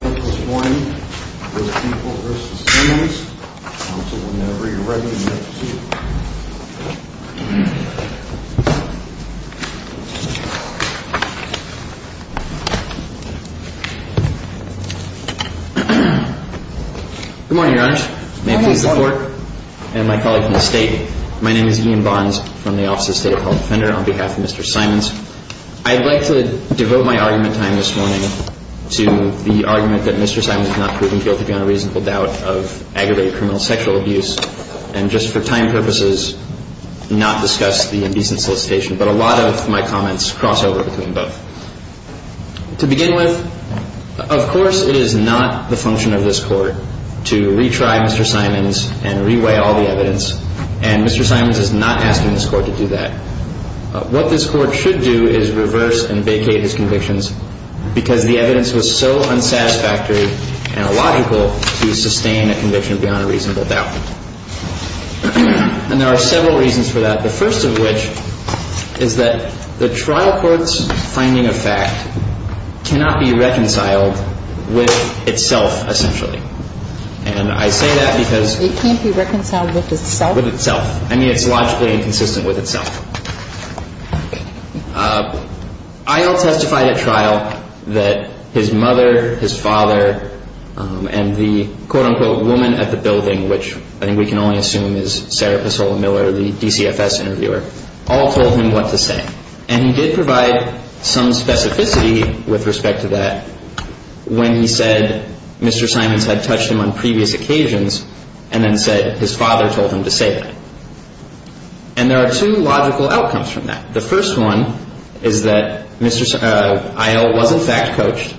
Good morning, your honors. May I please report? And my colleagues in the state, my name is Ian Bonds from the Office of State Appellate Defender on behalf of Mr. Simons. I'd like to devote my argument time this morning to the argument that Mr. Simons is not proven guilty on a reasonable doubt of aggravated criminal sexual abuse and just for time purposes not discuss the indecent solicitation. But a lot of my comments cross over between both. To begin with, of course it is not the function of this court to retry Mr. Simons and reweigh all the evidence, and Mr. Simons is not asking this court to do that. What this court should do is reverse and vacate his convictions because the evidence was so unsatisfactory and illogical to sustain a conviction beyond a reasonable doubt. And there are several reasons for that. The first of which is that the trial court's finding of fact cannot be reconciled with itself essentially. And I say that because It can't be reconciled with itself? I mean, it's logically inconsistent with itself. I'll testify at trial that his mother, his father, and the quote-unquote woman at the building, which I think we can only assume is Sarah Pasola Miller, the DCFS interviewer, all told him what to say. And he did provide some specificity with respect to that when he said Mr. Simons had touched him on previous occasions and then said his father told him to say that. And there are two logical outcomes from that. The first one is that Mr. Isle was in fact coached,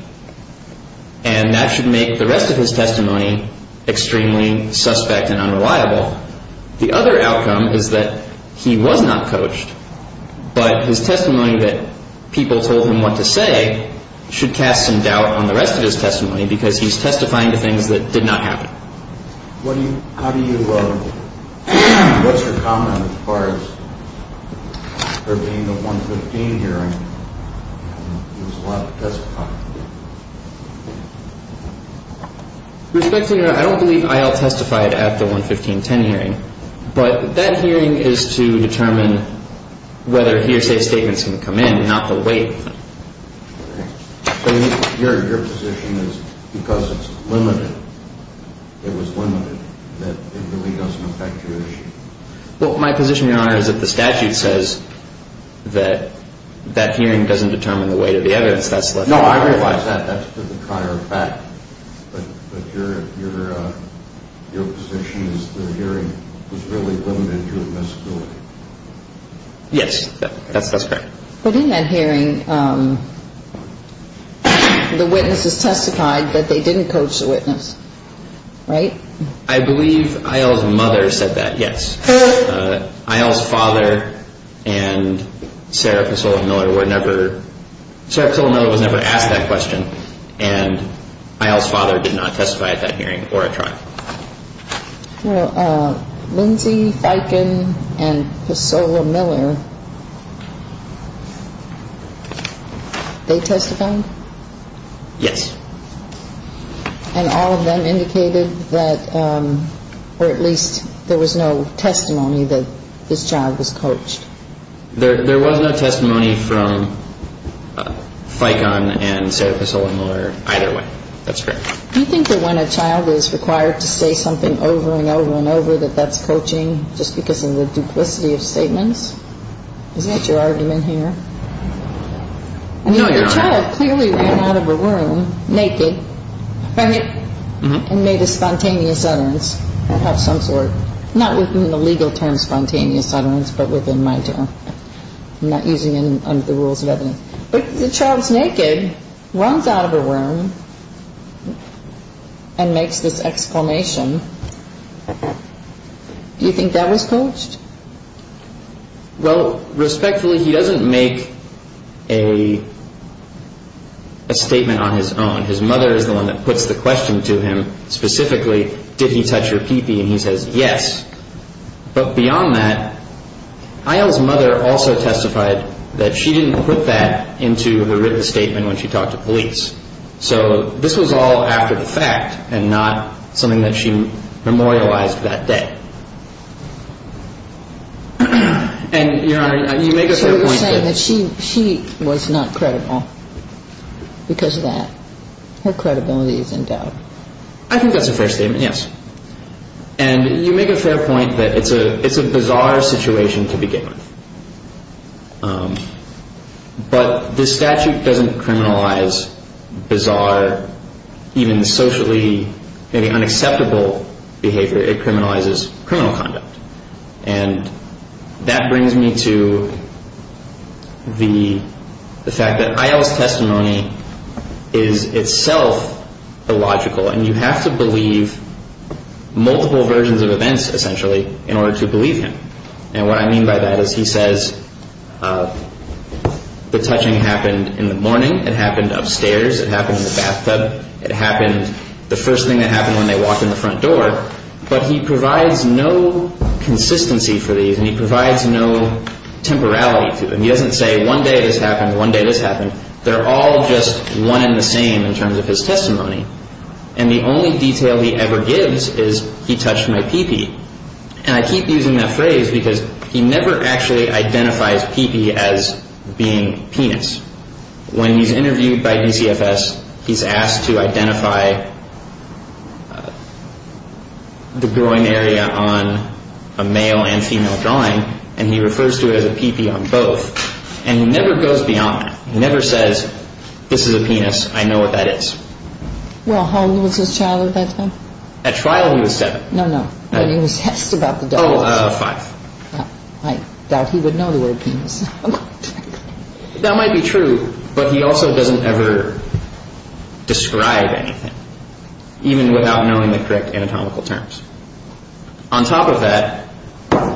and that should make the rest of his testimony extremely suspect and unreliable. The other outcome is that he was not coached, but his testimony that people told him what to say should cast some What do you, how do you, what's your comment as far as her being the 115 hearing? It was a lot of testifying. Respect to your, I don't believe Isle testified at the 115-10 hearing, but that hearing is to determine whether he or she's statements can come in, not the weight. So your position is because it's limited, it was limited, that it really doesn't affect your issue? Well, my position, Your Honor, is that the statute says that that hearing doesn't determine the weight of the evidence. No, I realize that. That's to the prior effect. But your position is the hearing was really limited to a visibility. Yes, that's correct. But in that hearing, the witnesses testified that they didn't coach the witness, right? I believe Isle's mother said that, yes. Her? Isle's father and Sarah Pissola-Miller were never, Sarah Pissola-Miller was never asked that question, and Isle's father did not testify at that hearing or at trial. Well, Lindsey, Fikon, and Pissola-Miller, they testified? Yes. And all of them indicated that, or at least there was no testimony that this child was coached? There was no testimony from Fikon and Sarah Pissola-Miller either way. That's correct. Do you think that when a child is required to say something over and over and over that that's coaching just because of the duplicity of statements? Isn't that your argument here? No, Your Honor. I mean, the child clearly ran out of a room naked, right, and made a spontaneous utterance of some sort, not within the legal term spontaneous utterance, but within my term. I'm not using it under the rules of evidence. But the child's naked, runs out of a room, and makes this exclamation. Do you think that was coached? Well, respectfully, he doesn't make a statement on his own. His mother is the one that puts the question to him, specifically, did he touch her pee-pee, and he says yes. But beyond that, Isle's mother also testified that she didn't put that into the written statement when she talked to police. So this was all after the fact and not something that she memorialized that day. And, Your Honor, you make a fair point that... So you're saying that she was not credible because of that. Her credibility is in doubt. I think that's a fair statement, yes. And you make a fair point that it's a bizarre situation to begin with. But this statute doesn't criminalize bizarre, even socially maybe unacceptable behavior. It criminalizes criminal conduct. And that brings me to the fact that Isle's testimony is itself illogical. And you have to believe multiple versions of events, essentially, in order to believe him. And what I mean by that is he says the touching happened in the morning. It happened upstairs. It happened in the bathtub. It happened the first thing that happened when they walked in the front door. But he provides no consistency for these, and he provides no temporality to them. He doesn't say one day this happened, one day this happened. They're all just one and the same in terms of his testimony. And the only detail he ever gives is he touched my pee-pee. And I keep using that phrase because he never actually identifies pee-pee as being penis. When he's interviewed by DCFS, he's asked to identify the groin area on a male and female drawing, and he refers to it as a pee-pee on both. And he never goes beyond that. He never says, this is a penis. I know what that is. Well, how old was his child at that time? At trial, he was seven. No, no. When he was asked about the dog. Oh, five. I doubt he would know the word penis. That might be true, but he also doesn't ever describe anything, even without knowing the correct anatomical terms. On top of that,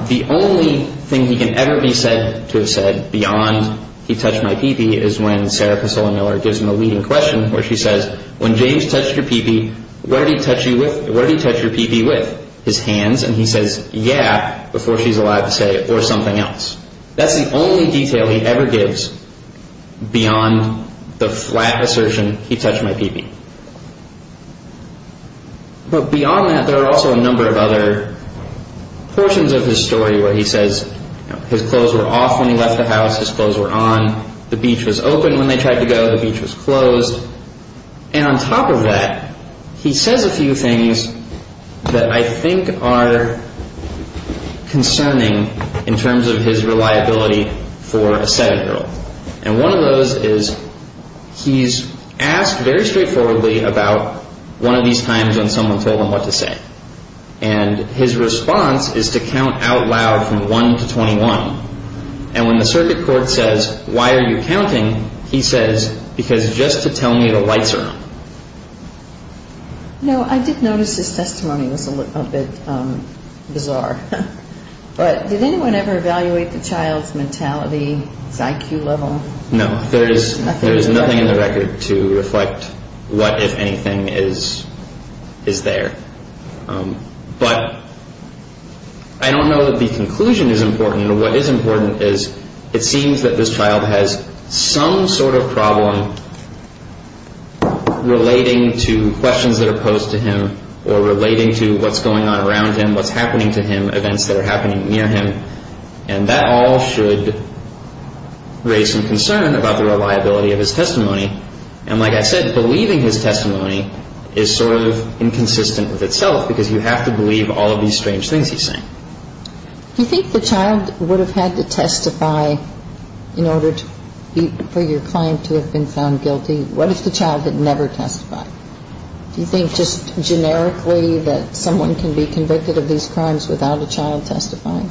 the only thing he can ever be said to have said beyond he touched my pee-pee is when Sarah Pasola Miller gives him a leading question where she says, when James touched your pee-pee, what did he touch your pee-pee with? His hands. And he says, yeah, before she's allowed to say, or something else. That's the only detail he ever gives beyond the flat assertion, he touched my pee-pee. But beyond that, there are also a number of other portions of his story where he says, his clothes were off when he left the house, his clothes were on, the beach was open when they tried to go, the beach was closed. And on top of that, he says a few things that I think are concerning in terms of his reliability for a seven-year-old. And one of those is he's asked very straightforwardly about one of these times when someone told him what to say. And his response is to count out loud from 1 to 21. And when the circuit court says, why are you counting? He says, because just to tell me the lights are on. I did notice his testimony was a bit bizarre. But did anyone ever evaluate the child's mentality, his IQ level? No, there is nothing in the record to reflect what, if anything, is there. But I don't know that the conclusion is important. What is important is it seems that this child has some sort of problem relating to questions that are posed to him or relating to what's going on around him, what's happening to him, events that are happening near him. And that all should raise some concern about the reliability of his testimony. And like I said, believing his testimony is sort of inconsistent with itself because you have to believe all of these strange things he's saying. Do you think the child would have had to testify in order for your client to have been found guilty? What if the child had never testified? Do you think just generically that someone can be convicted of these crimes without a child testifying?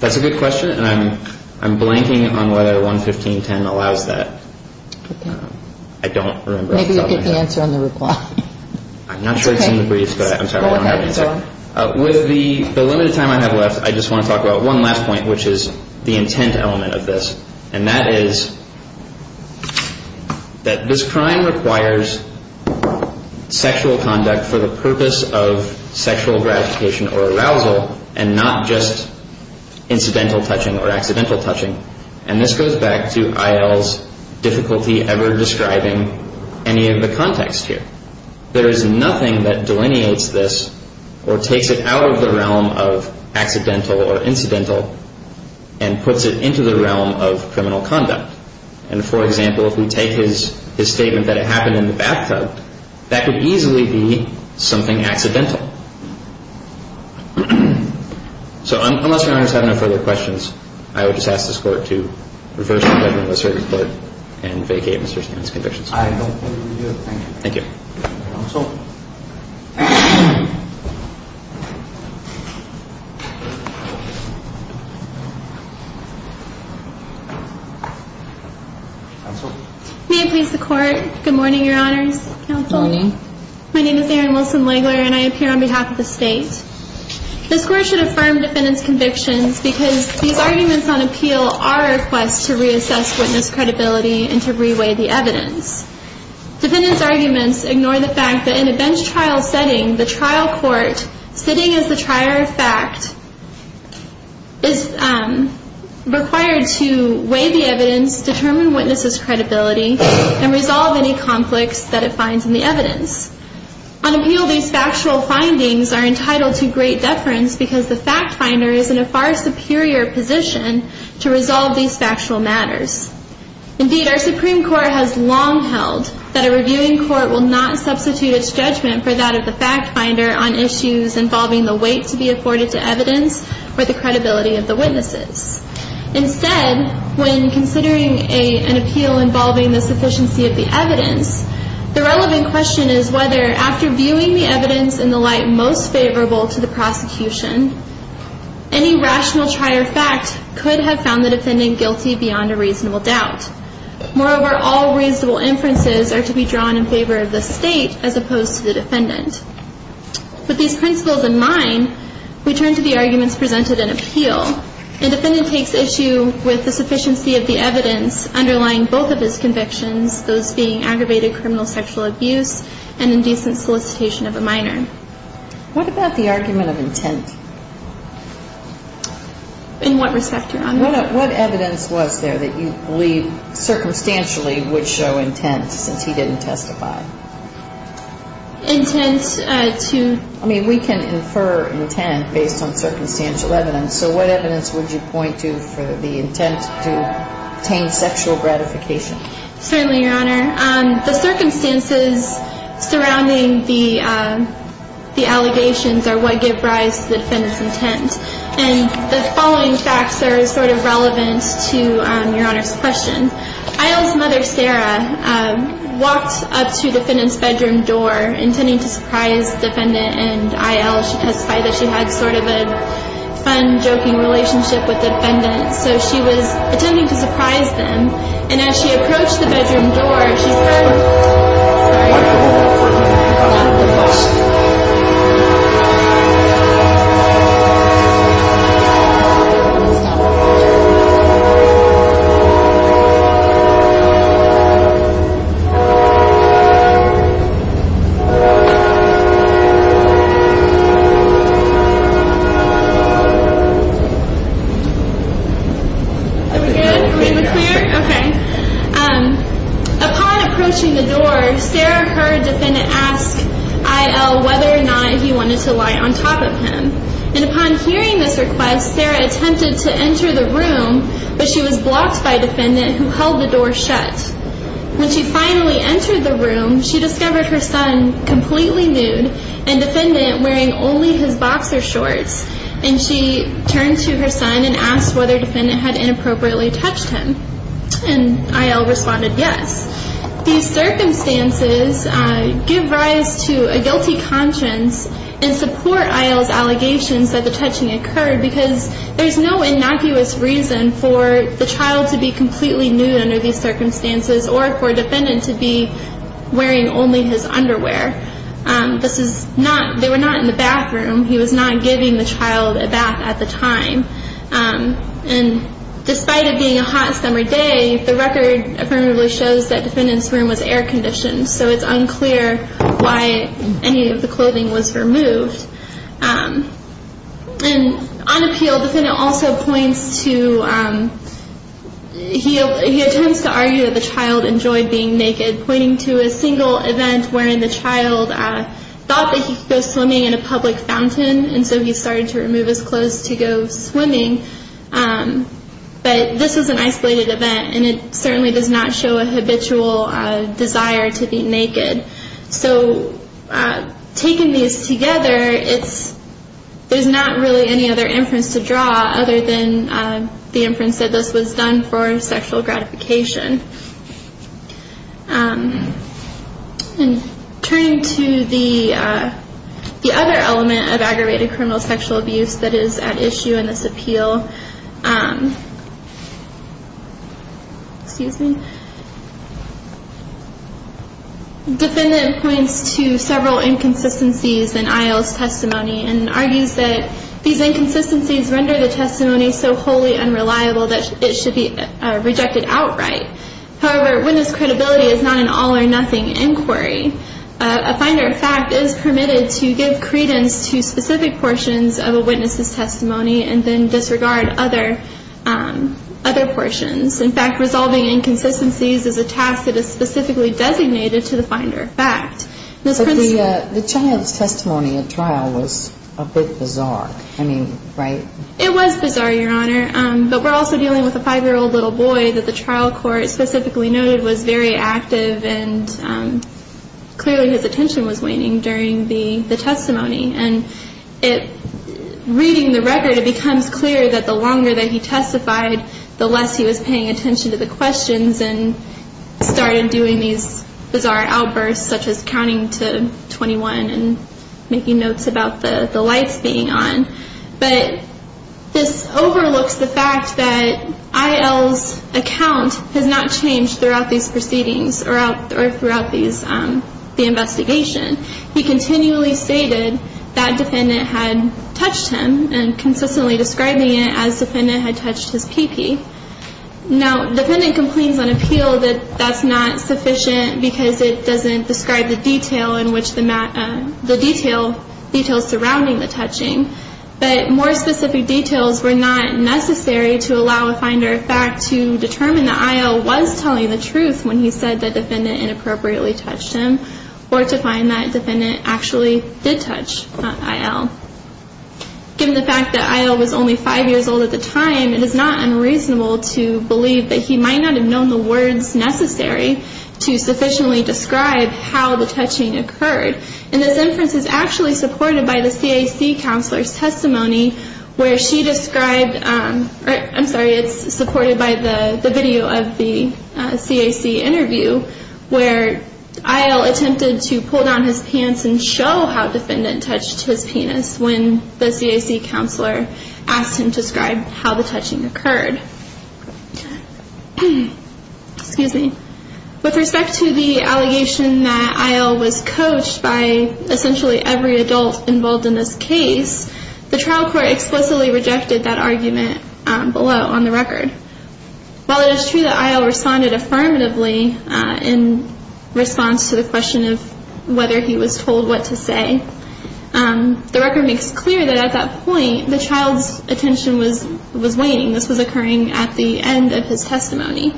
That's a good question, and I'm blanking on whether 115.10 allows that. I don't remember. Maybe you can answer on the reply. I'm not sure it's in the briefs, but I'm sorry, I don't have an answer. With the limited time I have left, I just want to talk about one last point, which is the intent element of this. And that is that this crime requires sexual conduct for the purpose of sexual gratification or arousal and not just incidental touching or accidental touching. And this goes back to IL's difficulty ever describing any of the context here. There is nothing that delineates this or takes it out of the realm of accidental or incidental and puts it into the realm of criminal conduct. And, for example, if we take his statement that it happened in the bathtub, that could easily be something accidental. So unless Your Honors have no further questions, I would just ask this Court to reverse the judgment of the Circuit Court and vacate Mr. Stanton's conviction. I don't believe we do. Thank you. Thank you. Counsel. Counsel. May it please the Court. Good morning, Your Honors. Counsel. Good morning. My name is Erin Wilson-Lagler, and I appear on behalf of the State. This Court should affirm defendants' convictions because these arguments on appeal are a request to reassess witness credibility and to reweigh the evidence. Defendants' arguments ignore the fact that in a bench trial setting, the trial court sitting as the trier of fact is required to weigh the evidence, determine witnesses' credibility, and resolve any conflicts that it finds in the evidence. On appeal, these factual findings are entitled to great deference because the fact finder is in a far superior position to resolve these factual matters. Indeed, our Supreme Court has long held that a reviewing court will not substitute its judgment for that of the fact finder on issues involving the weight to be accorded to evidence or the credibility of the witnesses. Instead, when considering an appeal involving the sufficiency of the evidence, the relevant question is whether, after viewing the evidence in the light most favorable to the prosecution, any rational trier of fact could have found the defendant guilty beyond a reasonable doubt. Moreover, all reasonable inferences are to be drawn in favor of the State as opposed to the defendant. With these principles in mind, we turn to the arguments presented in appeal. A defendant takes issue with the sufficiency of the evidence underlying both of his convictions, those being aggravated criminal sexual abuse and indecent solicitation of a minor. What about the argument of intent? In what respect, Your Honor? What evidence was there that you believe circumstantially would show intent since he didn't testify? Intent to? I mean, we can infer intent based on circumstantial evidence. So what evidence would you point to for the intent to obtain sexual gratification? Certainly, Your Honor. The circumstances surrounding the allegations are what give rise to the defendant's intent. And the following facts are sort of relevant to Your Honor's question. Aisle's mother, Sarah, walked up to the defendant's bedroom door intending to surprise the defendant and Aisle testified that she had sort of a fun, joking relationship with the defendant. So she was intending to surprise them. And as she approached the bedroom door, she heard a wonderful accordion being played. Are we good? Are we clear? Okay. Upon approaching the door, Sarah heard defendant ask Aisle whether or not he wanted to lie on top of him. And upon hearing this request, Sarah attempted to enter the room, but she was blocked by defendant who held the door shut. When she finally entered the room, she discovered her son completely nude and defendant wearing only his boxer shorts. And she turned to her son and asked whether defendant had inappropriately touched him. And Aisle responded yes. These circumstances give rise to a guilty conscience and support Aisle's allegations that the touching occurred because there's no innocuous reason for the child to be completely nude under these circumstances or for defendant to be wearing only his underwear. This is not, they were not in the bathroom. He was not giving the child a bath at the time. And despite it being a hot summer day, the record affirmatively shows that defendant's room was air conditioned. So it's unclear why any of the clothing was removed. And on appeal, defendant also points to, he attempts to argue that the child enjoyed being naked, pointing to a single event wherein the child thought that he could go swimming in a public fountain. And so he started to remove his clothes to go swimming. But this is an isolated event and it certainly does not show a habitual desire to be naked. So taking these together, it's, there's not really any other inference to draw other than the inference that this was done for sexual gratification. And turning to the other element of aggravated criminal sexual abuse that is at issue in this appeal, excuse me, defendant points to several inconsistencies in Aisle's testimony and argues that these inconsistencies render the testimony so wholly unreliable that it should be rejected outright. However, witness credibility is not an all or nothing inquiry. A finder of fact is permitted to give credence to specific portions of a witness's testimony and then disregard other portions. In fact, resolving inconsistencies is a task that is specifically designated to the finder of fact. But the child's testimony at trial was a bit bizarre. I mean, right? It was bizarre, Your Honor. But we're also dealing with a five-year-old little boy that the trial court specifically noted was very active and clearly his attention was waning during the testimony. And reading the record, it becomes clear that the longer that he testified, the less he was paying attention to the questions and started doing these bizarre outbursts, such as counting to 21 and making notes about the lights being on. But this overlooks the fact that Aisle's account has not changed throughout these proceedings or throughout the investigation. He continually stated that defendant had touched him and consistently describing it as defendant had touched his pee-pee. Now, defendant complains on appeal that that's not sufficient because it doesn't describe the detail surrounding the touching. But more specific details were not necessary to allow a finder of fact to determine that Aisle was telling the truth when he said the defendant inappropriately touched him or to find that defendant actually did touch Aisle. Given the fact that Aisle was only five years old at the time, it is not unreasonable to believe that he might not have known the words necessary to sufficiently describe how the touching occurred. And this inference is actually supported by the CAC counselor's testimony where she described, I'm sorry, it's supported by the video of the CAC interview, where Aisle attempted to pull down his pants and show how defendant touched his penis when the CAC counselor asked him to describe how the touching occurred. Excuse me. With respect to the allegation that Aisle was coached by essentially every adult involved in this case, the trial court explicitly rejected that argument below on the record. While it is true that Aisle responded affirmatively in response to the question of whether he was told what to say, the record makes clear that at that point the child's attention was waning. This was occurring at the end of his testimony.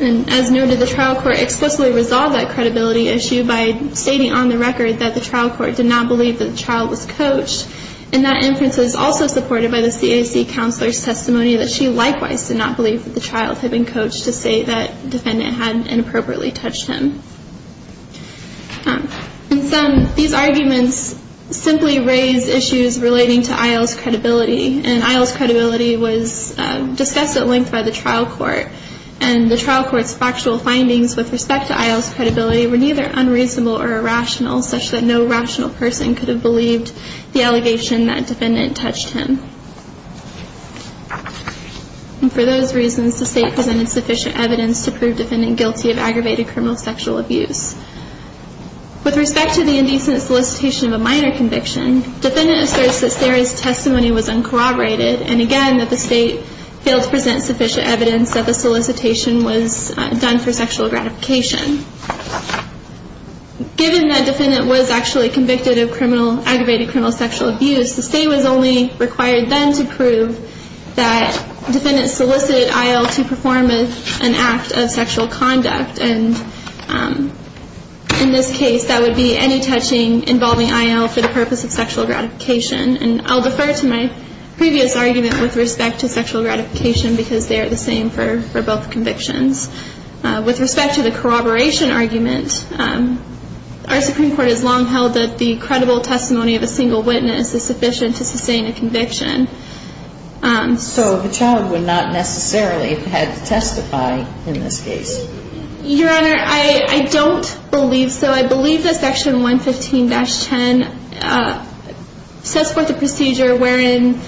And as noted, the trial court explicitly resolved that credibility issue by stating on the record that the trial court did not believe that the child was coached. And that inference is also supported by the CAC counselor's testimony that she likewise did not believe that the child had been coached to say that defendant had inappropriately touched him. These arguments simply raise issues relating to Aisle's credibility. And Aisle's credibility was discussed at length by the trial court. And the trial court's factual findings with respect to Aisle's credibility were neither unreasonable or irrational, such that no rational person could have believed the allegation that defendant touched him. And for those reasons, the State presented sufficient evidence to prove defendant guilty of aggravated criminal sexual abuse. With respect to the indecent solicitation of a minor conviction, defendant asserts that Sarah's testimony was uncorroborated, and again that the State failed to present sufficient evidence that the solicitation was done for sexual gratification. Given that defendant was actually convicted of aggravated criminal sexual abuse, the State was only required then to prove that defendant solicited Aisle to perform an act of sexual conduct. And in this case, that would be any touching involving Aisle for the purpose of sexual gratification. And I'll defer to my previous argument with respect to sexual gratification, because they are the same for both convictions. With respect to the corroboration argument, our Supreme Court has long held that the credible testimony of a single witness is sufficient to sustain a conviction. So the child would not necessarily have had to testify in this case? Your Honor, I don't believe so. I believe that Section 115-10 sets forth a procedure wherein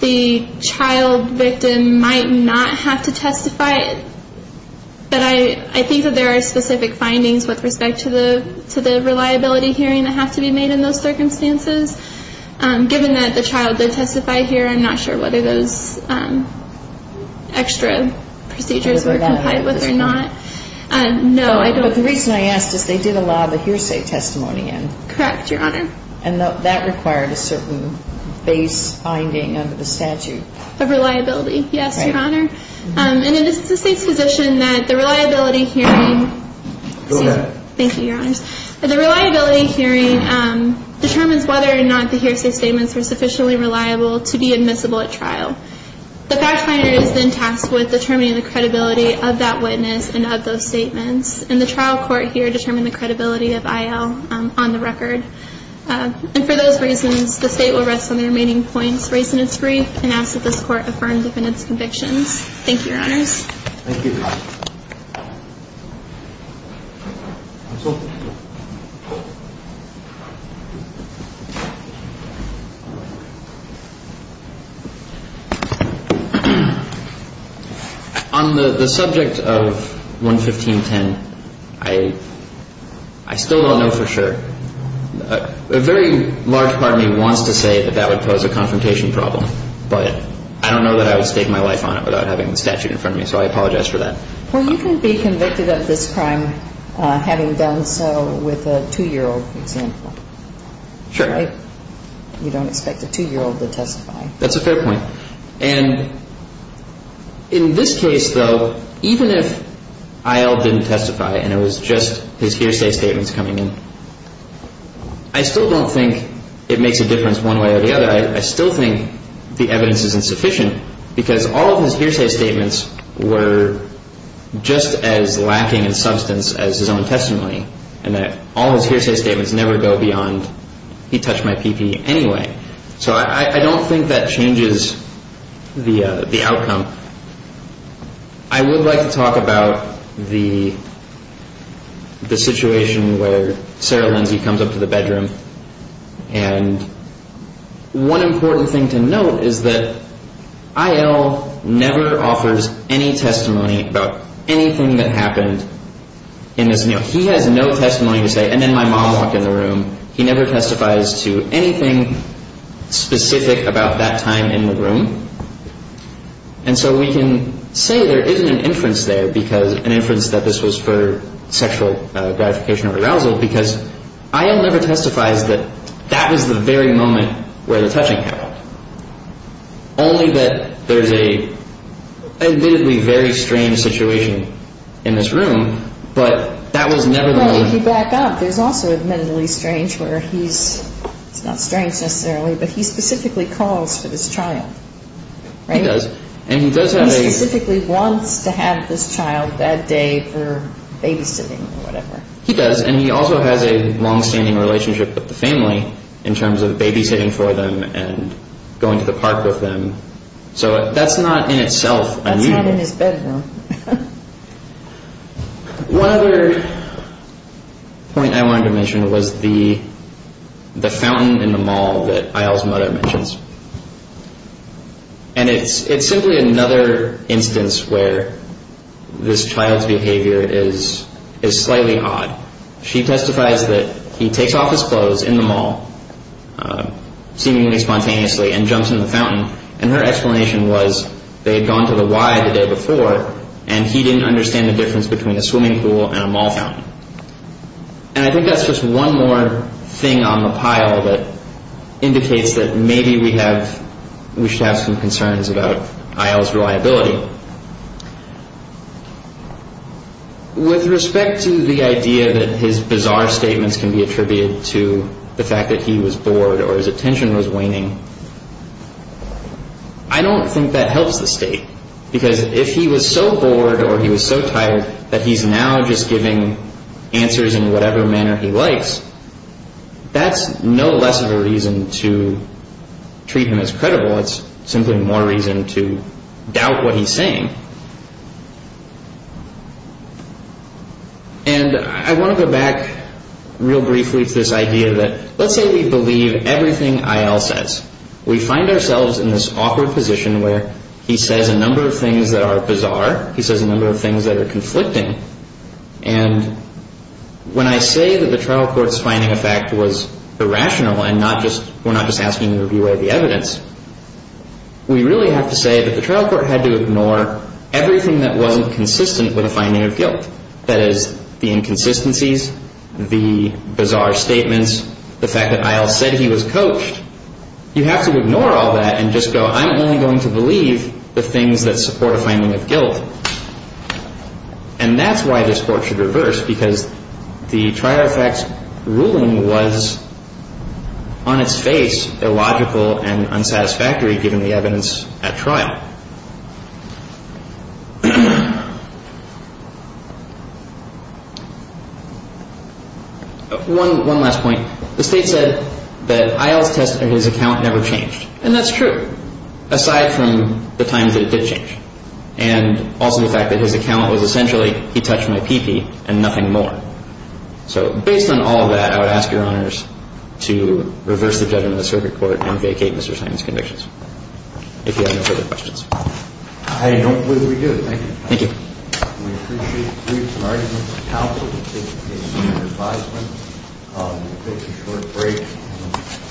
the child victim might not have to testify, but I think that there are specific findings with respect to the reliability hearing that have to be made in those circumstances. Given that the child did testify here, I'm not sure whether those extra procedures were complied with or not. No, I don't. But the reason I asked is they did allow the hearsay testimony in. Correct, Your Honor. And that required a certain base finding under the statute. Of reliability, yes, Your Honor. And it is the State's position that the reliability hearing determines whether or not the hearsay statements were sufficiently reliable to be admissible at trial. The fact finder is then tasked with determining the credibility of that witness and of those statements, and the trial court here determined the credibility of IL on the record. And for those reasons, the State will rest on the remaining points raised in its brief and ask that this Court affirm the defendant's convictions. Thank you, Your Honors. Thank you. Counsel? On the subject of 11510, I still don't know for sure. A very large part of me wants to say that that would pose a confrontation problem, but I don't know that I would stake my life on it without having the statute in front of me, so I apologize for that. Well, you can be convicted of this crime having done so with a 2-year-old, for example. Sure. Right? You don't expect a 2-year-old to testify. That's a fair point. And in this case, though, even if IL didn't testify and it was just his hearsay statements coming in, I still don't think it makes a difference one way or the other. But I still think the evidence is insufficient because all of his hearsay statements were just as lacking in substance as his own testimony, and that all his hearsay statements never go beyond, he touched my pee-pee anyway. So I don't think that changes the outcome. I would like to talk about the situation where Sarah Lindsay comes up to the bedroom, and one important thing to note is that IL never offers any testimony about anything that happened in this room. He has no testimony to say, and then my mom walked in the room. He never testifies to anything specific about that time in the room. And so we can say there isn't an inference there, an inference that this was for sexual gratification or arousal, because IL never testifies that that was the very moment where the touching happened, only that there's a admittedly very strange situation in this room, but that was never the moment. Well, if you back up, there's also admittedly strange where he's, it's not strange necessarily, but he specifically calls for this child, right? He does, and he does have a... He specifically wants to have this child that day for babysitting or whatever. He does, and he also has a longstanding relationship with the family in terms of babysitting for them and going to the park with them. So that's not in itself a need. That's not in his bedroom. One other point I wanted to mention was the fountain in the mall that IL's mother mentions. And it's simply another instance where this child's behavior is slightly odd. She testifies that he takes off his clothes in the mall seemingly spontaneously and jumps in the fountain, and her explanation was they had gone to the Y the day before, and he didn't understand the difference between a swimming pool and a mall fountain. And I think that's just one more thing on the pile that indicates that maybe we have, we should have some concerns about IL's reliability. So with respect to the idea that his bizarre statements can be attributed to the fact that he was bored or his attention was waning, I don't think that helps the state, because if he was so bored or he was so tired that he's now just giving answers in whatever manner he likes, that's no less of a reason to treat him as credible. It's simply more reason to doubt what he's saying. And I want to go back real briefly to this idea that let's say we believe everything IL says. We find ourselves in this awkward position where he says a number of things that are bizarre. He says a number of things that are conflicting. And when I say that the trial court's finding of fact was irrational and we're not just asking the reviewer the evidence, we really have to say that the trial court had to ignore everything that wasn't consistent with a finding of guilt. That is, the inconsistencies, the bizarre statements, the fact that IL said he was coached. You have to ignore all that and just go, I'm only going to believe the things that support a finding of guilt. And that's why this court should reverse, because the trial fact's ruling was on its face illogical and unsatisfactory, given the evidence at trial. One last point. The state said that IL's test of his account never changed. And that's true, aside from the times that it did change. And also the fact that his account was essentially, he touched my pee-pee and nothing more. So based on all that, I would ask Your Honors to reverse the judgment of the circuit court and vacate Mr. Simon's convictions. If you have no further questions. I don't believe we do. Thank you. Thank you. We appreciate briefs and arguments from counsel. We appreciate your advisement. We'll take a short break.